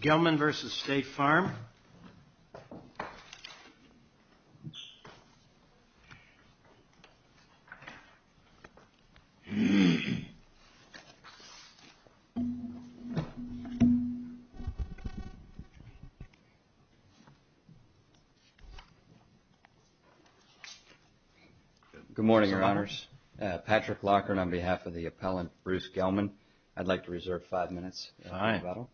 Gellman v. State Farm Good morning, Your Honors. Patrick Lockhart on behalf of the appellant, Bruce Gellman. I'd like to reserve five minutes. All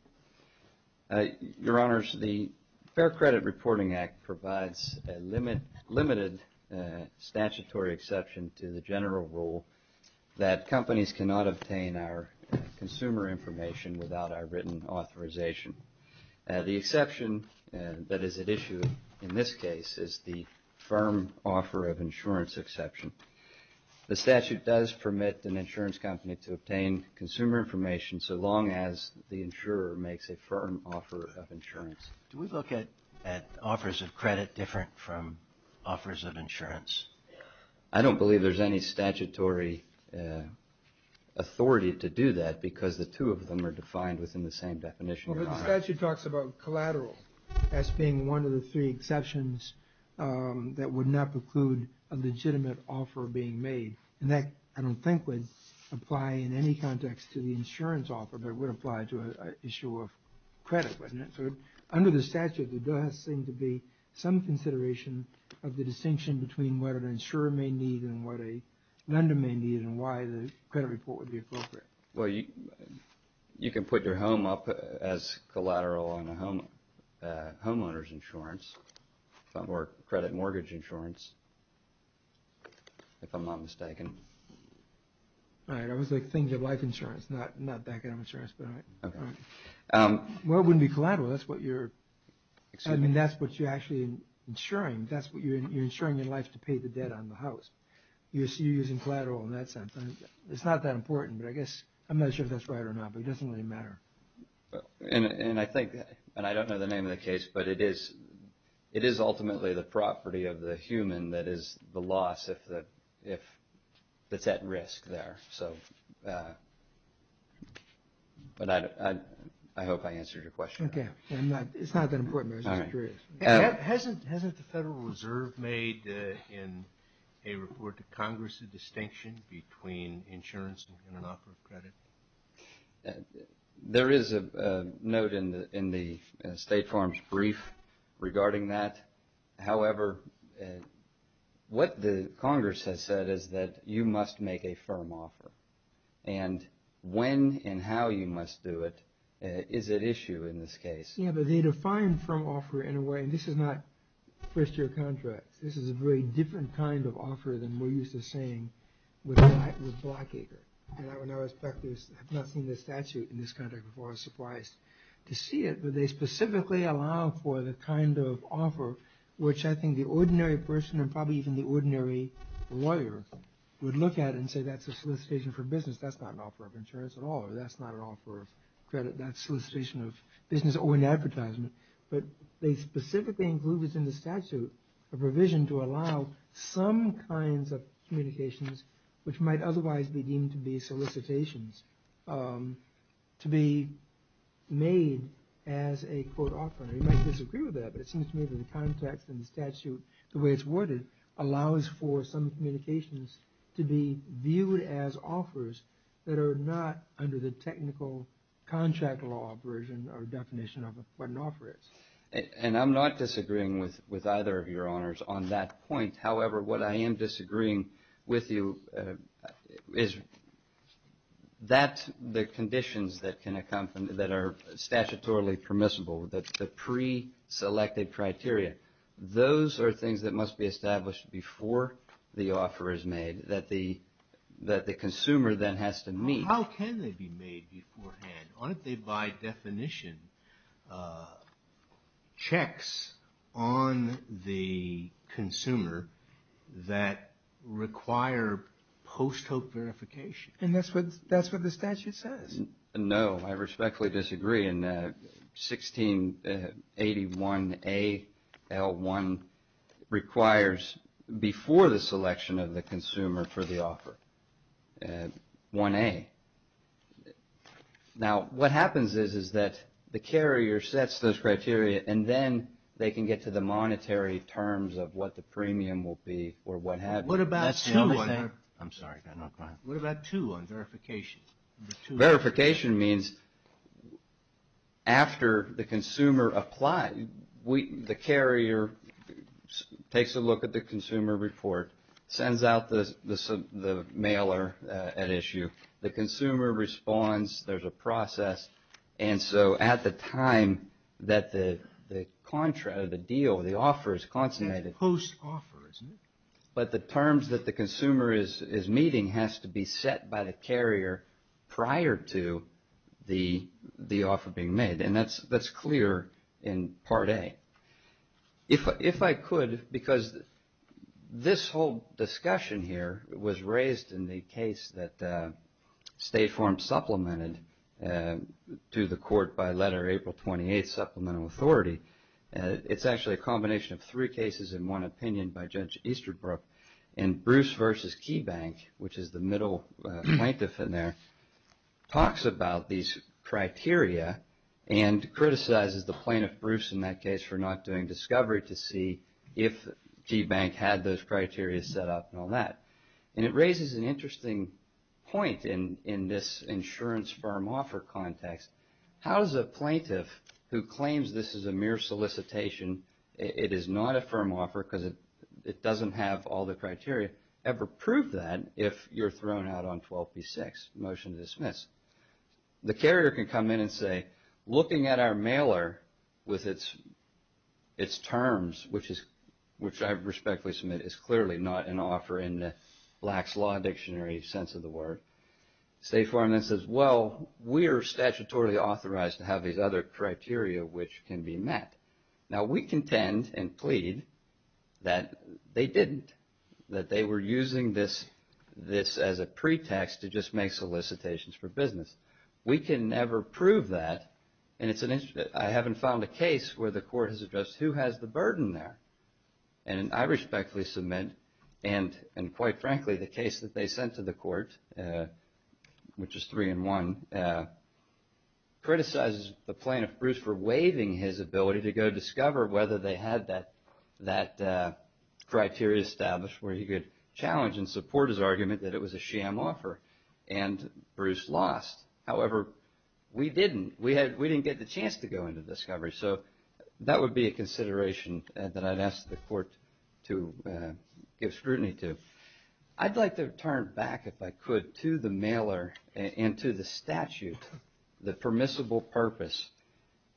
right. Your Honors, the Fair Credit Reporting Act provides a limited statutory exception to the general rule that companies cannot obtain our consumer information without our written authorization. The exception that is at issue in this case is the firm offer of insurance exception. The statute does permit an insurance company to obtain consumer information so long as the insurer makes a firm offer of insurance. Do we look at offers of credit different from offers of insurance? I don't believe there's any statutory authority to do that because the two of them are defined within the same definition. The statute talks about collateral as being one of the three exceptions that would not preclude a legitimate offer being made, and that I don't think would apply in any context to the insurance offer, but it would apply to an issue of credit, wouldn't it? So under the statute, there does seem to be some consideration of the distinction between what an insurer may need and what a lender may need and why the credit report would be appropriate. Well, you can put your home up as collateral on a homeowner's insurance or credit mortgage insurance, if I'm not mistaken. All right, I was thinking of life insurance, not back end insurance. Well, it wouldn't be collateral. That's what you're actually insuring. You're insuring your life to pay the debt on the house. You're using collateral in that sense. It's not that important, but I guess I'm not sure if that's right or not, but it doesn't really matter. And I think, and I don't know the name of the case, but it is ultimately the property of the human that is the loss if it's at risk there. But I hope I answered your question. Okay, it's not that important, but I was just curious. Hasn't the Federal Reserve made in a report to Congress a distinction between insurance and an offer of credit? There is a note in the State Farm's brief regarding that. However, what the Congress has said is that you must make a firm offer, and when and how you must do it is at issue in this case. Yeah, but they define firm offer in a way, and this is not first-year contracts. This is a very different kind of offer than we're used to seeing with Blackacre. And I, when I was back there, had not seen the statute in this contract before. I was surprised to see it, but they specifically allow for the kind of offer which I think the ordinary person and probably even the ordinary lawyer would look at and say that's a solicitation for business. That's not an offer of insurance at all, or that's not an offer of credit. That's solicitation of business or an advertisement. But they specifically include within the statute a provision to allow some kinds of communications which might otherwise be deemed to be solicitations to be made as a quote offer. And you might disagree with that, but it seems to me that the context in the statute, the way it's worded, allows for some communications to be viewed as offers that are not under the technical contract law version or definition of what an offer is. And I'm not disagreeing with either of your honors on that point. However, what I am disagreeing with you is that the conditions that can accompany, that are statutorily permissible, the pre-selected criteria, those are things that must be established before the offer is made, that the consumer then has to meet. How can they be made beforehand? Aren't they by definition checks on the consumer that require post-hope verification? And that's what the statute says. No, I respectfully disagree. 1681A, L1, requires before the selection of the consumer for the offer, 1A. Now, what happens is that the carrier sets those criteria and then they can get to the monetary terms of what the premium will be or what have you. What about 2? I'm sorry. What about 2 on verification? Verification means after the consumer applies, the carrier takes a look at the consumer report, sends out the mailer at issue, the consumer responds, there's a process, and so at the time that the deal, the offer is consummated. It's post-offer, isn't it? But the terms that the consumer is meeting has to be set by the carrier prior to the offer being made, and that's clear in Part A. If I could, because this whole discussion here was raised in the case that State Farm supplemented to the court by Letter April 28, Supplemental Authority. It's actually a combination of three cases in one opinion by Judge Easterbrook and Bruce v. Keybank, which is the middle plaintiff in there, talks about these criteria and criticizes the plaintiff, Bruce, in that case for not doing discovery to see if Keybank had those criteria set up and all that. And it raises an interesting point in this insurance firm offer context. How does a plaintiff who claims this is a mere solicitation, it is not a firm offer because it doesn't have all the criteria, ever prove that if you're thrown out on 12b-6, motion to dismiss? The carrier can come in and say, looking at our mailer with its terms, which I respectfully submit is clearly not an offer in the lax law dictionary sense of the word. State Farm then says, well, we are statutorily authorized to have these other criteria which can be met. Now, we contend and plead that they didn't, that they were using this as a pretext to just make solicitations for business. We can never prove that, and I haven't found a case where the court has addressed who has the burden there. And I respectfully submit, and quite frankly, the case that they sent to the court, which is 3-1, criticizes the plaintiff, Bruce, for waiving his ability to go discover whether they had that criteria established where he could challenge and support his argument that it was a sham offer, and Bruce lost. However, we didn't. We didn't get the chance to go into discovery. So that would be a consideration that I'd ask the court to give scrutiny to. I'd like to turn back, if I could, to the mailer and to the statute, the permissible purpose.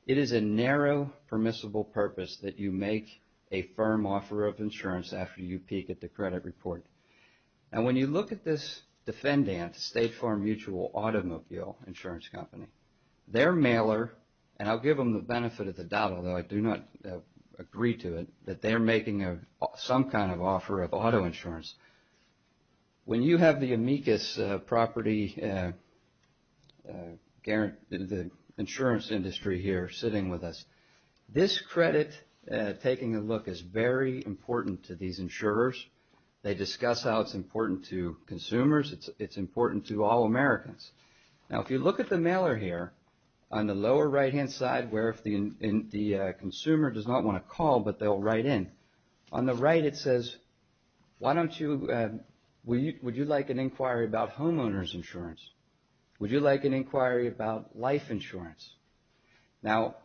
It is a narrow permissible purpose that you make a firm offer of insurance after you peak at the credit report. And when you look at this defendant, State Farm Mutual Automobile Insurance Company, their mailer, and I'll give them the benefit of the doubt, although I do not agree to it, that they're making some kind of offer of auto insurance. When you have the amicus property insurance industry here sitting with us, this credit taking a look is very important to these insurers. They discuss how it's important to consumers. It's important to all Americans. Now, if you look at the mailer here, on the lower right-hand side, where if the consumer does not want to call, but they'll write in, on the right it says, would you like an inquiry about homeowner's insurance? Would you like an inquiry about life insurance? Now,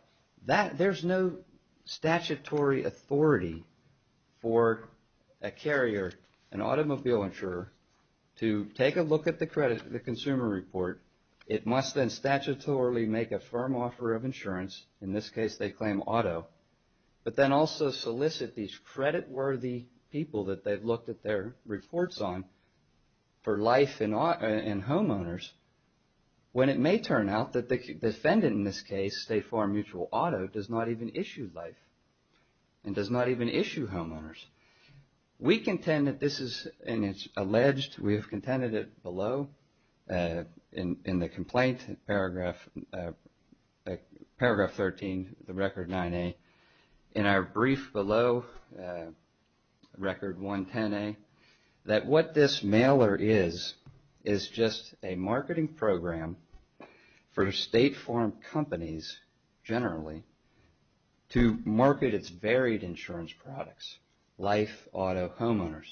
there's no statutory authority for a carrier, an automobile insurer, to take a look at the consumer report. It must then statutorily make a firm offer of insurance. In this case, they claim auto. But then also solicit these creditworthy people that they've looked at their reports on for life and homeowners. When it may turn out that the defendant in this case, State Farm Mutual Auto, does not even issue life and does not even issue homeowners. We contend that this is, and it's alleged, we have contended it below in the complaint, paragraph 13, the record 9A, in our brief below, record 110A, that what this mailer is, is just a marketing program for State Farm companies, generally, to market its varied insurance products, life, auto, homeowners.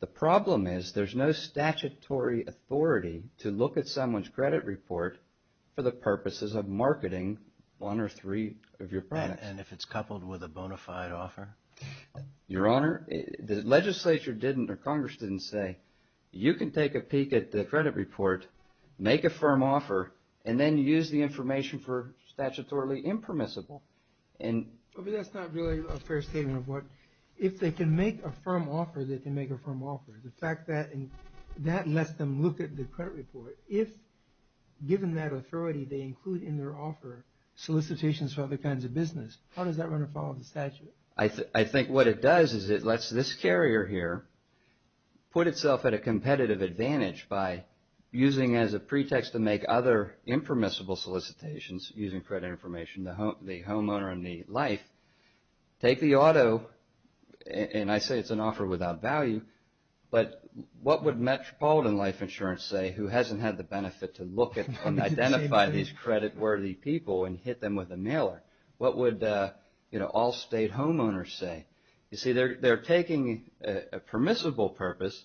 The problem is there's no statutory authority to look at someone's credit report for the purposes of marketing one or three of your products. And if it's coupled with a bona fide offer? Your Honor, the legislature didn't or Congress didn't say, you can take a peek at the credit report, make a firm offer, and then use the information for statutorily impermissible. But that's not really a fair statement of what, if they can make a firm offer, they can make a firm offer. The fact that that lets them look at the credit report, if given that authority they include in their offer solicitations for other kinds of business, how does that run afoul of the statute? I think what it does is it lets this carrier here put itself at a competitive advantage by using as a pretext to make other impermissible solicitations using credit information, the homeowner and the life, take the auto, and I say it's an offer without value, but what would metropolitan life insurance say who hasn't had the benefit to look at and identify these credit worthy people and hit them with a mailer? What would all state homeowners say? You see, they're taking a permissible purpose,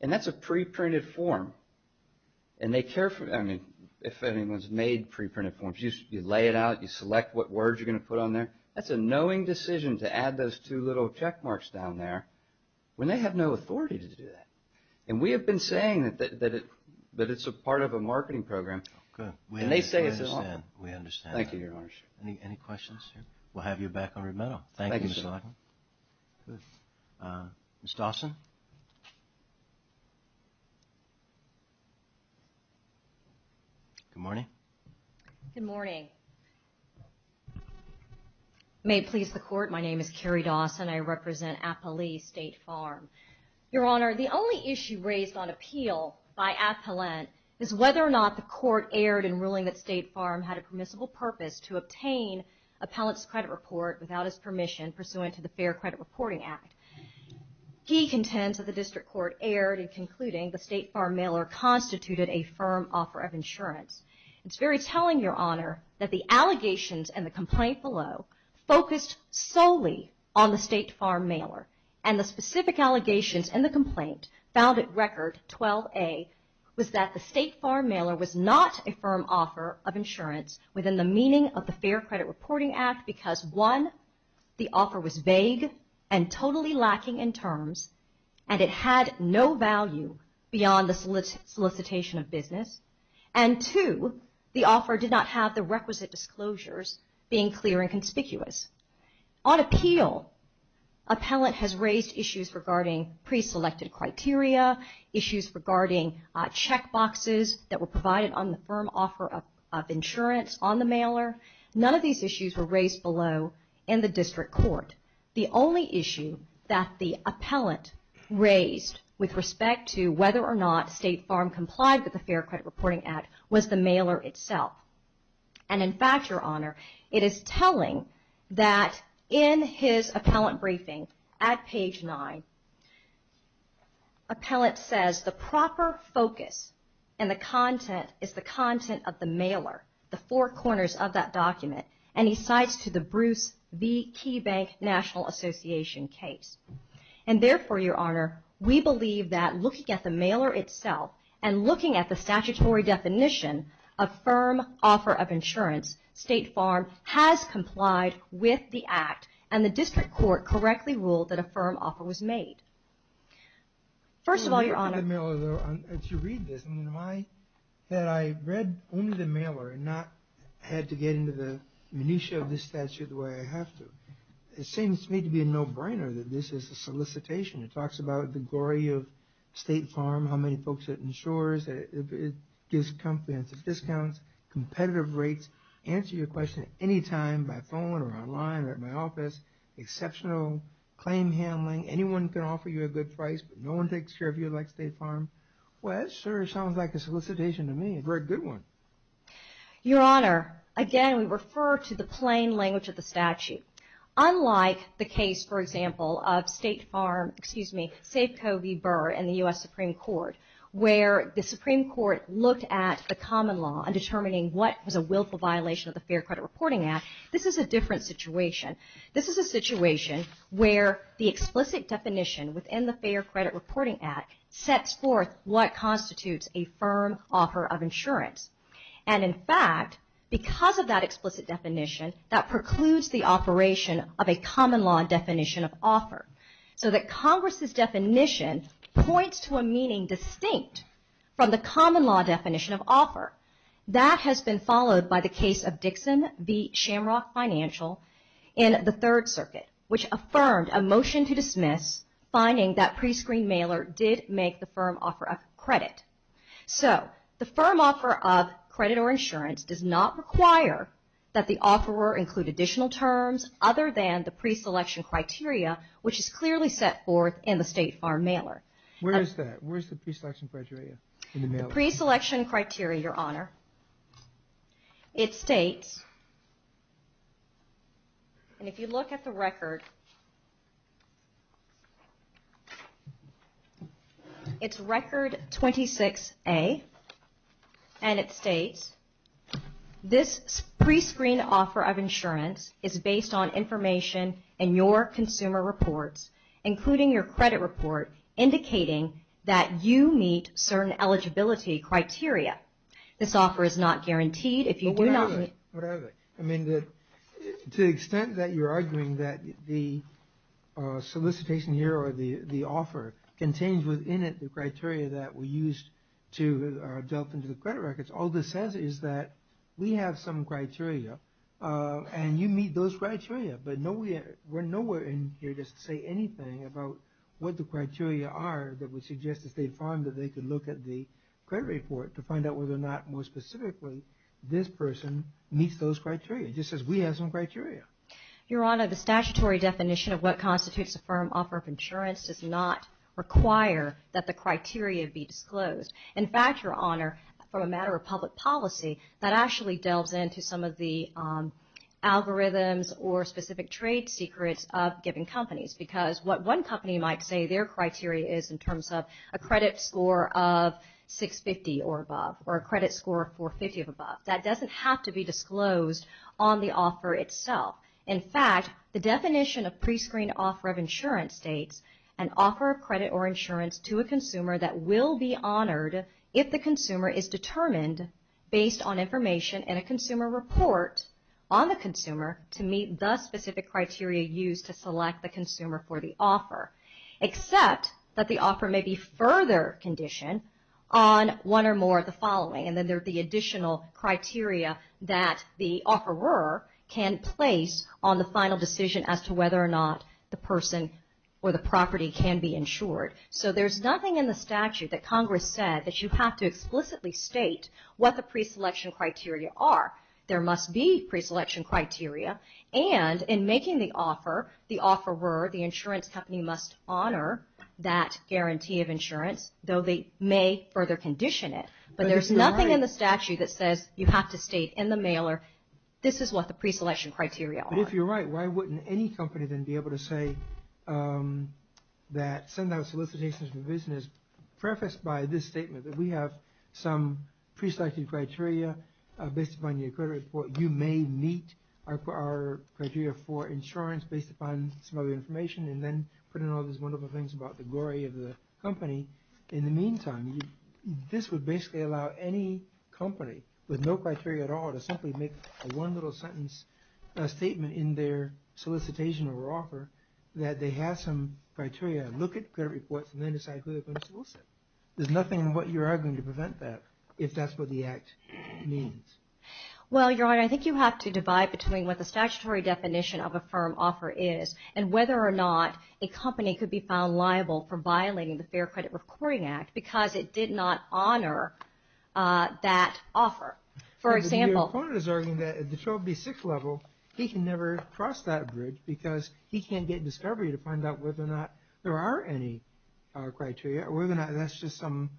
and that's a pre-printed form, and they care, I mean, if anyone's made pre-printed forms, you lay it out, you select what words you're going to put on there, that's a knowing decision to add those two little check marks down there when they have no authority to do that. And we have been saying that it's a part of a marketing program, and they say it's an offer. We understand. Thank you, Your Honor. Any questions? We'll have you back on remittal. Thank you, Mr. Larkin. Ms. Dawson? Good morning. Good morning. May it please the Court, my name is Carrie Dawson. I represent Appalee State Farm. Your Honor, the only issue raised on appeal by Appalent is whether or not the Court erred in ruling that State Farm had a permissible purpose to obtain Appalent's credit report without his permission, pursuant to the Fair Credit Reporting Act. He contends that the District Court erred in concluding the State Farm mailer constituted a firm offer of insurance. It's very telling, Your Honor, that the allegations in the complaint below focused solely on the State Farm mailer, and the specific allegations in the complaint found at Record 12A was that the State Farm mailer was not a firm offer of insurance within the meaning of the Fair Credit Reporting Act, because one, the offer was vague and totally lacking in terms, and it had no value beyond the solicitation of business, and two, the offer did not have the requisite disclosures being clear and conspicuous. On appeal, Appalent has raised issues regarding pre-selected criteria, issues regarding check boxes that were provided on the firm offer of insurance on the mailer. None of these issues were raised below in the District Court. The only issue that the Appalent raised with respect to whether or not State Farm complied with the Fair Credit Reporting Act was the mailer itself. And in fact, Your Honor, it is telling that in his Appalent briefing at page 9, Appalent says the proper focus and the content is the content of the mailer, the four corners of that document, and he cites to the Bruce V. Key Bank National Association case. And therefore, Your Honor, we believe that looking at the mailer itself and looking at the statutory definition of firm offer of insurance, State Farm has complied with the Act, and the District Court correctly ruled that a firm offer was made. First of all, Your Honor, If you read this, had I read only the mailer and not had to get into the minutiae of this statute the way I have to, it seems to me to be a no-brainer that this is a solicitation. It talks about the glory of State Farm, how many folks it insures, it gives comprehensive discounts, competitive rates, answer your question anytime by phone or online or at my office, exceptional claim handling, anyone can offer you a good price, but no one takes care of you like State Farm. Well, that sure sounds like a solicitation to me, a very good one. Your Honor, again, we refer to the plain language of the statute. Unlike the case, for example, of State Farm, excuse me, Safeco v. Burr in the U.S. Supreme Court, where the Supreme Court looked at the common law and determining what was a willful violation of the Fair Credit Reporting Act, this is a different situation. This is a situation where the explicit definition within the Fair Credit Reporting Act sets forth what constitutes a firm offer of insurance. And in fact, because of that explicit definition, that precludes the operation of a common law definition of offer. So that Congress's definition points to a meaning distinct from the common law definition of offer. That has been followed by the case of Dixon v. Shamrock Financial in the Third Circuit, which affirmed a motion to dismiss, finding that prescreened mailer did make the firm offer of credit. So the firm offer of credit or insurance does not require that the offeror include additional terms other than the preselection criteria, which is clearly set forth in the State Farm mailer. Where is that? Where is the preselection criteria in the mailer? The preselection criteria, Your Honor, it states, and if you look at the record, it's Record 26A, and it states, this prescreened offer of insurance is based on information in your consumer reports, including your credit report, indicating that you meet certain eligibility criteria. This offer is not guaranteed if you do not meet... Whatever, whatever. I mean, to the extent that you're arguing that the solicitation here, or the offer contains within it the criteria that were used to delve into the credit records, all this says is that we have some criteria, and you meet those criteria. But we're nowhere in here to say anything about what the criteria are that would suggest to State Farm that they could look at the credit report to find out whether or not, more specifically, this person meets those criteria, just says we have some criteria. Your Honor, the statutory definition of what constitutes a firm offer of insurance does not require that the criteria be disclosed. In fact, Your Honor, from a matter of public policy, that actually delves into some of the algorithms or specific trade secrets of given companies, because what one company might say their criteria is in terms of a credit score of 650 or above, or a credit score of 450 or above. That doesn't have to be disclosed on the offer itself. In fact, the definition of prescreened offer of insurance states, an offer of credit or insurance to a consumer that will be honored if the consumer is determined based on information and a consumer report on the consumer to meet the specific criteria used to select the consumer for the offer. Except that the offer may be further conditioned on one or more of the following, and then there'd be additional criteria that the offeror can place on the final decision as to whether or not the person or the property can be insured. So there's nothing in the statute that Congress said that you have to explicitly state what the preselection criteria are. There must be preselection criteria, and in making the offer, the offeror, the insurance company must honor that guarantee of insurance, though they may further condition it. But there's nothing in the statute that says you have to state in the mailer, this is what the preselection criteria are. But if you're right, why wouldn't any company then be able to say that, send out solicitations for business, preface by this statement that we have some preselected criteria based upon your credit report. You may meet our criteria for insurance based upon some other information and then put in all these wonderful things about the glory of the company. In the meantime, this would basically allow any company with no criteria at all to simply make a one little sentence statement in their solicitation or offer that they have some criteria. Look at credit reports and then decide who they're going to solicit. There's nothing in what you're arguing to prevent that, if that's what the Act means. Well, Your Honor, I think you have to divide between what the statutory definition of a firm offer is and whether or not a company could be found liable for violating the Fair Credit Reporting Act because it did not honor that offer. Your opponent is arguing that at the 12B6 level, he can never cross that bridge because he can't get discovery to find out whether or not there are any criteria or whether or not that's just some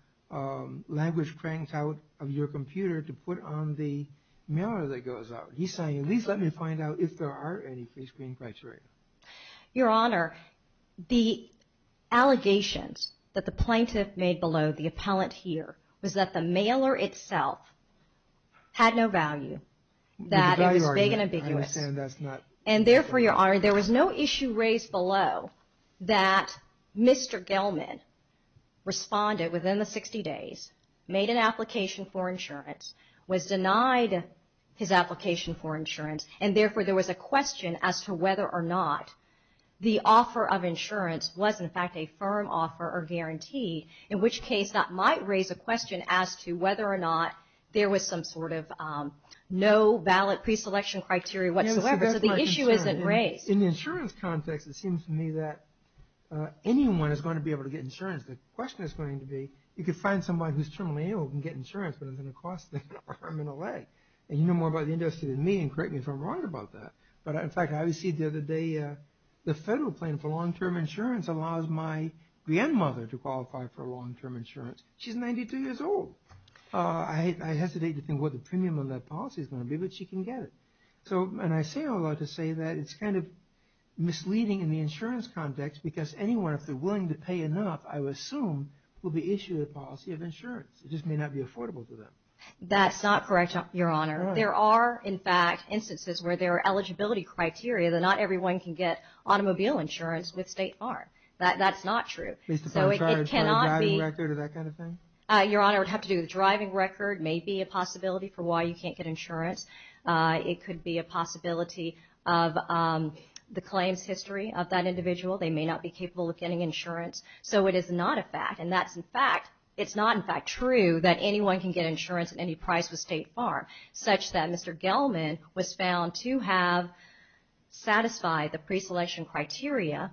language cranked out of your computer to put on the mailer that goes out. He's saying, at least let me find out if there are any free screen criteria. Your Honor, the allegations that the plaintiff made below the appellant here was that the mailer itself had no value, that it was vague and ambiguous. And therefore, Your Honor, there was no issue raised below that Mr. Gelman responded within the 60 days, made an application for insurance, was denied his application for insurance, and therefore there was a question as to whether or not the offer of insurance was, in fact, a firm offer or guarantee, in which case that might raise a question as to whether or not there was some sort of no ballot preselection criteria whatsoever. So the issue isn't raised. In the insurance context, it seems to me that anyone is going to be able to get insurance. The question is going to be, you could find someone who's terminally ill who can get insurance but it's going to cost them an arm and a leg. And you know more about the industry than me, and correct me if I'm wrong about that. But in fact, I received the other day, the federal plan for long-term insurance allows my grandmother to qualify for long-term insurance. She's 92 years old. I hesitate to think what the premium of that policy is going to be, but she can get it. And I say all that to say that it's kind of misleading in the insurance context because anyone, if they're willing to pay enough, I would assume, will be issued a policy of insurance. It just may not be affordable to them. That's not correct, Your Honor. There are, in fact, instances where there are eligibility criteria that not everyone can get automobile insurance with state farm. That's not true. So it cannot be... Is the firm charged by a driver record or that kind of thing? Your Honor, it would have to do with the driving record. It may be a possibility for why you can't get insurance. It could be a possibility of the claims history of that individual. They may not be capable of getting insurance. So it is not a fact. And that's, in fact, it's not, in fact, true that anyone can get insurance at any price with state farm, such that Mr. Gelman was found to have satisfied the preselection criteria,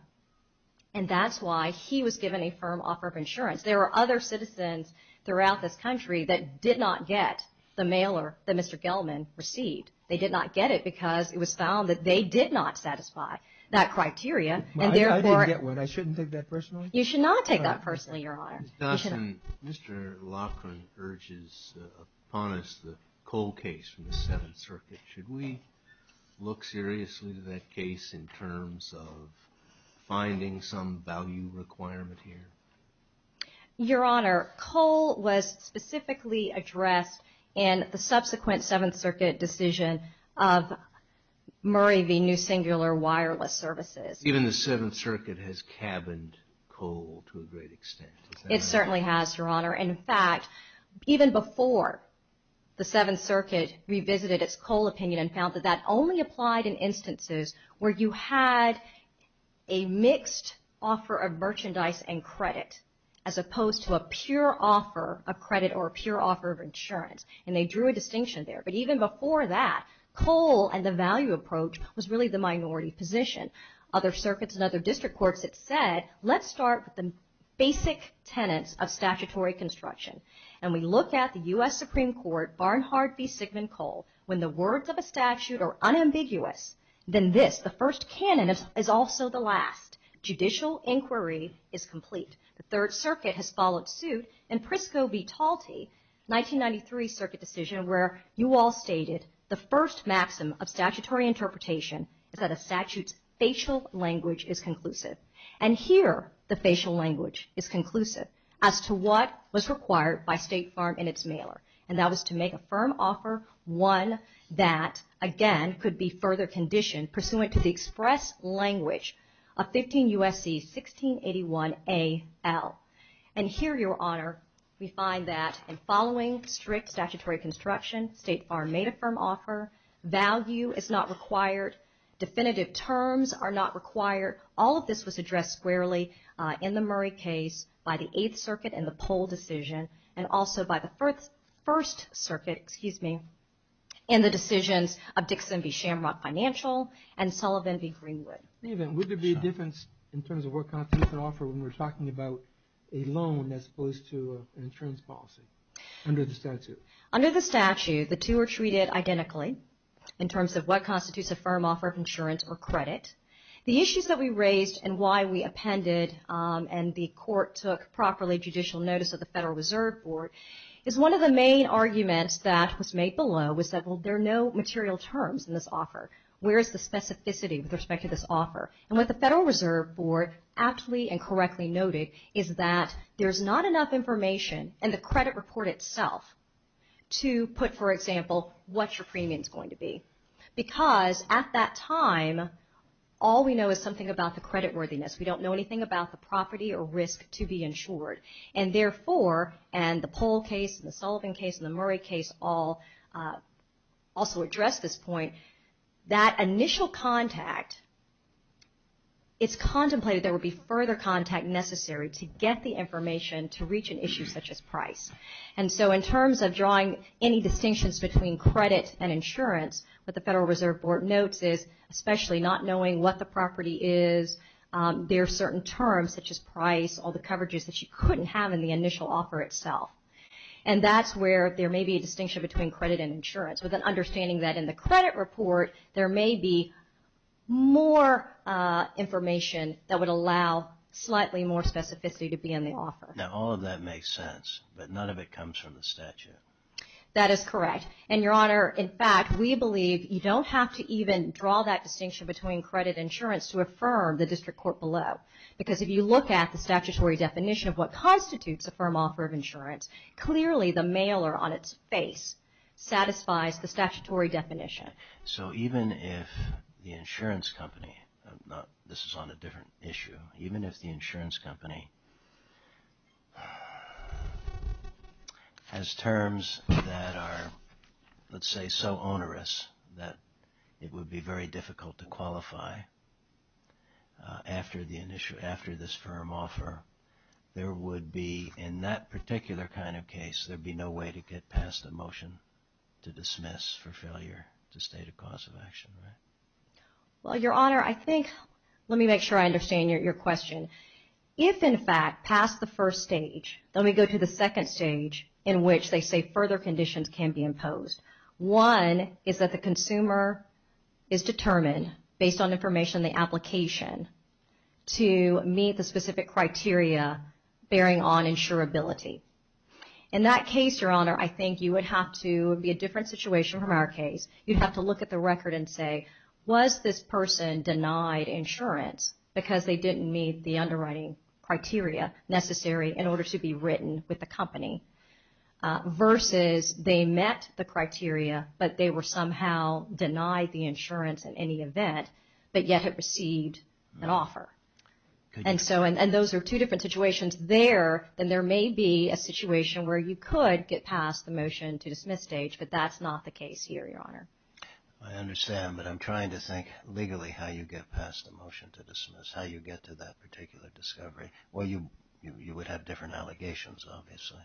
and that's why he was given a firm offer of insurance. There are other citizens throughout this country that did not get the mailer that Mr. Gelman received. They did not get it because it was found that they did not satisfy that criteria. I didn't get one. I shouldn't take that personally? You should not take that personally, Your Honor. Mr. Laughlin urges upon us the Cole case from the Seventh Circuit. Should we look seriously to that case in terms of finding some value requirement here? Your Honor, Cole was specifically addressed in the subsequent Seventh Circuit decision of Murray v. New Singular Wireless Services. Even the Seventh Circuit has cabined Cole to a great extent. It certainly has, Your Honor. In fact, even before the Seventh Circuit revisited its Cole opinion and found that that only applied in instances where you had a mixed offer of merchandise and credit as opposed to a pure offer of credit or a pure offer of insurance, and they drew a distinction there. But even before that, Cole and the value approach was really the minority position. Other circuits and other district courts had said, let's start with the basic tenets of statutory construction. And we look at the U.S. Supreme Court, Barnhard v. Sigmund Cole, when the words of a statute are unambiguous, then this, the first canon, is also the last. Judicial inquiry is complete. The Third Circuit has followed suit in Prisco v. Talte, 1993 Circuit decision, where you all stated the first maxim of statutory interpretation is that a statute's facial language is conclusive. And here, the facial language is conclusive as to what was required by State Farm in its mailer. And that was to make a firm offer, one that, again, could be further conditioned, pursuant to the express language of 15 U.S.C. 1681 A.L. And here, Your Honor, we find that in following strict statutory construction, State Farm made a firm offer, value is not required, definitive terms are not required. All of this was addressed squarely in the Murray case by the Eighth Circuit and the Pohl decision, and also by the First Circuit, excuse me, in the decisions of Dixon v. Shamrock Financial and Sullivan v. Greenwood. Even, would there be a difference in terms of what constitutes an offer when we're talking about a loan as opposed to an insurance policy under the statute? Under the statute, the two are treated identically in terms of what constitutes a firm offer of insurance or credit. The issues that we raised and why we appended and the court took properly judicial notice of the Federal Reserve Board is one of the main arguments that was made below, was that, well, there are no material terms in this offer. Where is the specificity with respect to this offer? And what the Federal Reserve Board aptly and correctly noted is that there's not enough information in the credit report itself to put, for example, what your premium is going to be. Because at that time, all we know is something about the credit worthiness. We don't know anything about the property or risk to be insured. And therefore, and the Pohl case and the Sullivan case and the Murray case all also address this point, that initial contact, it's contemplated there would be further contact necessary to get the information to reach an issue such as price. And so in terms of drawing any distinctions between credit and insurance, what the Federal Reserve Board notes is, especially not knowing what the property is, there are certain terms such as price, all the coverages that you couldn't have in the initial offer itself. And that's where there may be a distinction between credit and insurance with an understanding that in the credit report, there may be more information that would allow slightly more specificity to be in the offer. Now, all of that makes sense, but none of it comes from the statute. That is correct. And, Your Honor, in fact, we believe you don't have to even draw that distinction between credit and insurance to affirm the district court below. Because if you look at the statutory definition of what constitutes a firm offer of insurance, clearly the mailer on its face satisfies the statutory definition. So even if the insurance company, this is on a different issue, even if the insurance company has terms that are, let's say, so onerous that it would be very difficult to qualify after this firm offer, there would be, in that particular kind of case, there would be no way to get past a motion to dismiss for failure to state a cause of action, right? Well, Your Honor, I think, let me make sure I understand your question. If, in fact, passed the first stage, then we go to the second stage in which they say further conditions can be imposed. One is that the consumer is determined, based on information in the application, to meet the specific criteria bearing on insurability. In that case, Your Honor, I think you would have to, it would be a different situation from our case, you'd have to look at the record and say, was this person denied insurance because they didn't meet the underwriting criteria necessary in order to be written with the company, versus they met the criteria, but they were somehow denied the insurance in any event, but yet had received an offer. And so, and those are two different situations there, and there may be a situation where you could get past the motion to dismiss stage, but that's not the case here, Your Honor. I understand, but I'm trying to think legally how you get past the motion to dismiss, how you get to that particular discovery. Well, you would have different allegations, obviously.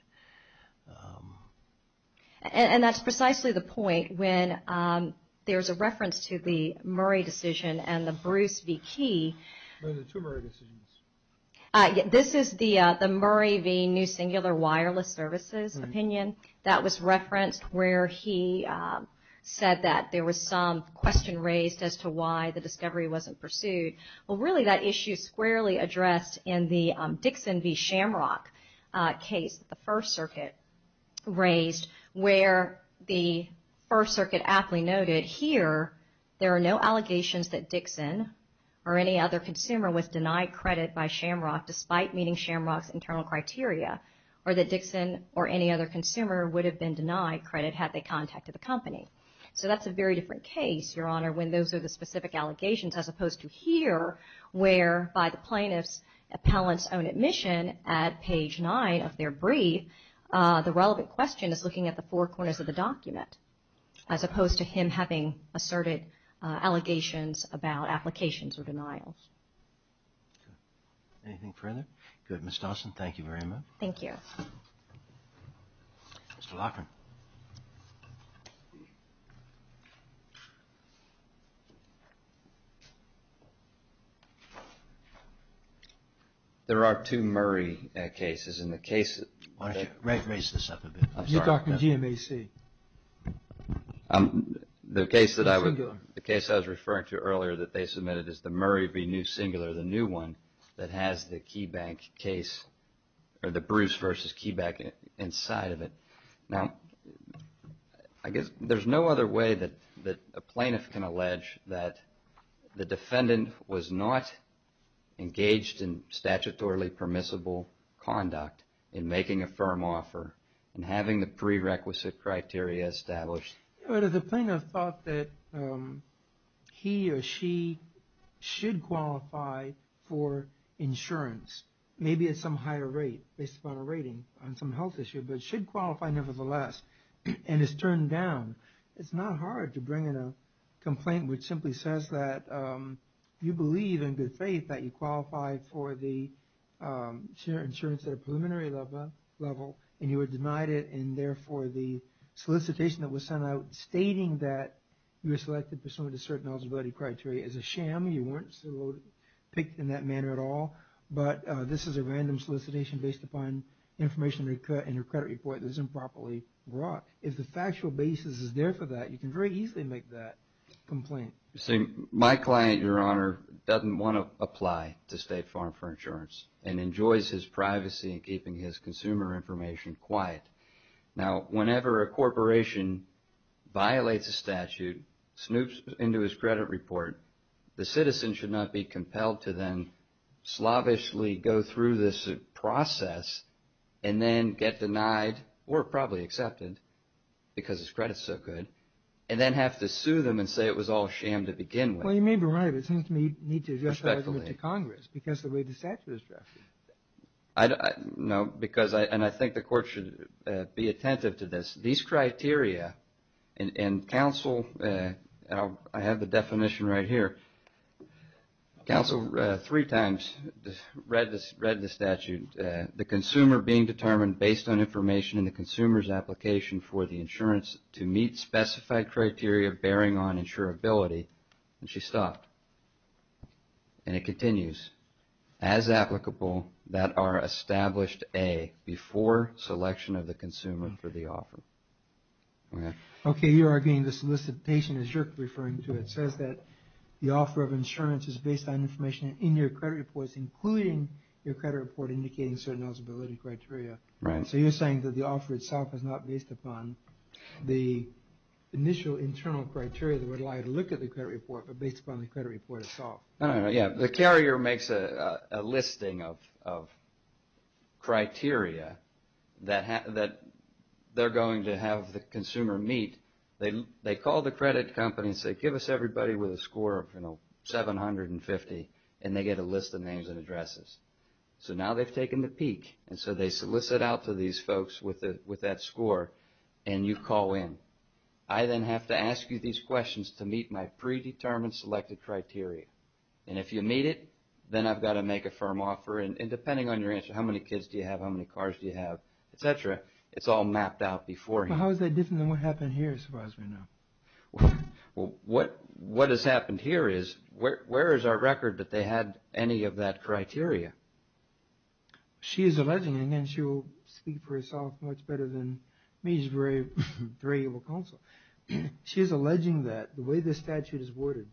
And that's precisely the point when there's a reference to the Murray decision and the Bruce v. Key. There were two Murray decisions. This is the Murray v. New Singular Wireless Services opinion. That was referenced where he said that there was some question raised as to why the discovery wasn't pursued. Well, really that issue squarely addressed in the Dixon v. Shamrock case, the First Circuit raised, where the First Circuit aptly noted, here there are no allegations that Dixon or any other consumer was denied credit by Shamrock, despite meeting Shamrock's internal criteria, or that Dixon or any other consumer would have been denied credit had they contacted the company. So that's a very different case, Your Honor, when those are the specific allegations as opposed to here, where by the plaintiff's appellant's own admission at page 9 of their brief, the relevant question is looking at the four corners of the document, as opposed to him having asserted allegations about applications or denials. Anything further? No? Good. Ms. Dawson, thank you very much. Thank you. Mr. Loughran. There are two Murray cases, and the case that... Why don't you raise this up a bit? You're talking GMAC. The case that I was referring to earlier that they submitted is the Murray v. New Singular, the new one, that has the Bruce v. Keybank inside of it. Now, I guess there's no other way that a plaintiff can allege that the defendant was not engaged in statutorily permissible conduct in making a firm offer and having the prerequisite criteria established. The plaintiff thought that he or she should qualify for insurance, maybe at some higher rate based upon a rating on some health issue, but should qualify nevertheless, and it's turned down. It's not hard to bring in a complaint which simply says that you believe in good faith that you qualified for the insurance at a preliminary level, and you were denied it, and therefore the solicitation that was sent out stating that you were selected pursuant to certain eligibility criteria is a sham. You weren't selected in that manner at all, but this is a random solicitation based upon information in your credit report that is improperly brought. If the factual basis is there for that, you can very easily make that complaint. My client, Your Honor, doesn't want to apply to State Farm for insurance and enjoys his privacy in keeping his consumer information quiet. Now, whenever a corporation violates a statute, snoops into his credit report, the citizen should not be compelled to then slavishly go through this process and then get denied or probably accepted because his credit is so good and then have to sue them and say it was all sham to begin with. Well, you may be right. But it seems to me you need to address that with the Congress because the way the statute is drafted. No, because I think the Court should be attentive to this. These criteria and counsel, and I have the definition right here, counsel three times read the statute, the consumer being determined based on information in the consumer's application for the insurance to meet specified criteria bearing on insurability. And she stopped. And it continues, as applicable that are established, A, before selection of the consumer for the offer. Okay, you're arguing the solicitation as you're referring to it says that the offer of insurance is based on information in your credit reports, including your credit report indicating certain eligibility criteria. Right. So you're saying that the offer itself is not based upon the initial internal criteria that would allow you to look at the credit report, but based upon the credit report itself. Yeah, the carrier makes a listing of criteria that they're going to have the consumer meet. They call the credit company and say give us everybody with a score of 750 and they get a list of names and addresses. So now they've taken the peak. And so they solicit out to these folks with that score and you call in. I then have to ask you these questions to meet my predetermined selected criteria. And if you meet it, then I've got to make a firm offer. And depending on your answer, how many kids do you have, how many cars do you have, et cetera, it's all mapped out before you. How is that different than what happened here as far as we know? What has happened here is where is our record that they had any of that criteria? She is alleging, and she will speak for herself much better than me, she's a very able counsel. She is alleging that the way the statute is worded,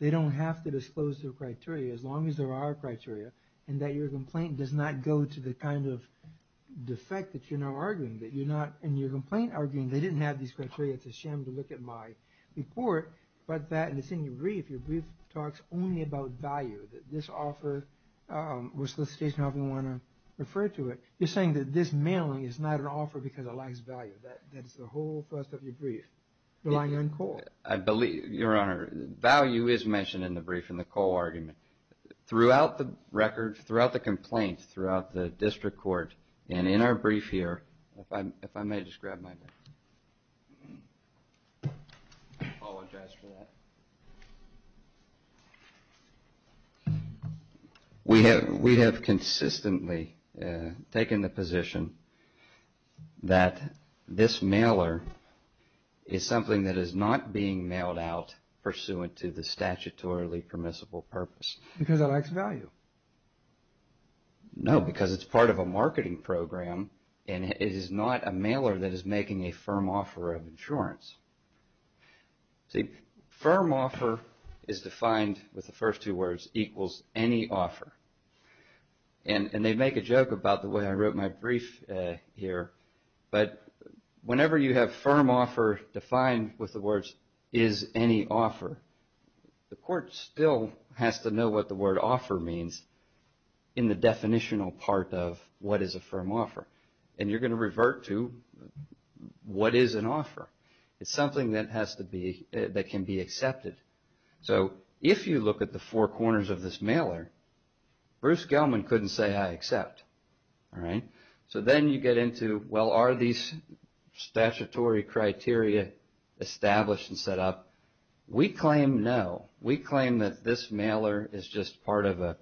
they don't have to disclose their criteria as long as there are criteria and that your complaint does not go to the kind of defect that you're now arguing. And your complaint arguing they didn't have these criteria, it's a shame to look at my report, but that in the same brief, your brief talks only about value, that this offer was solicitation, however you want to refer to it. You're saying that this mailing is not an offer because it lacks value. That's the whole first of your brief. I believe, Your Honor, value is mentioned in the brief in the core argument. Throughout the records, throughout the complaints, throughout the district court, and in our brief here, if I may just grab my book. I apologize for that. We have consistently taken the position that this mailer is something that is not being mailed out pursuant to the statutorily permissible purpose. Because it lacks value. No, because it's part of a marketing program and it is not a mailer that is making a firm offer of insurance. See, firm offer is defined with the first two words, equals any offer. And they make a joke about the way I wrote my brief here, but whenever you have firm offer defined with the words, is any offer, the court still has to know what the word offer means in the definitional part of what is a firm offer. And you're going to revert to what is an offer. It's something that has to be, that can be accepted. So if you look at the four corners of this mailer, Bruce Gelman couldn't say I accept. So then you get into, well, are these statutory criteria established and set up? We claim no. We claim that this mailer is just part of a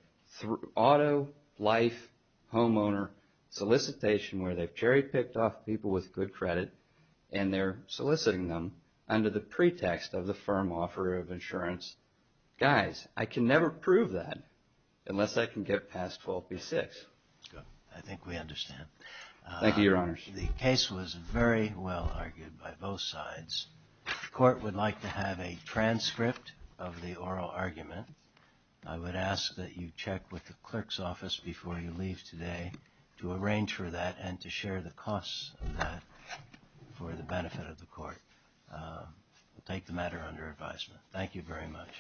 auto life homeowner solicitation where they've cherry picked off people with good credit and they're soliciting them under the pretext of the firm offer of insurance. Guys, I can never prove that unless I can get past 12b-6. I think we understand. Thank you, Your Honors. The case was very well argued by both sides. The court would like to have a transcript of the oral argument. I would ask that you check with the clerk's office before you leave today to arrange for that and to share the costs of that for the benefit of the court. We'll take the matter under advisement. Thank you very much.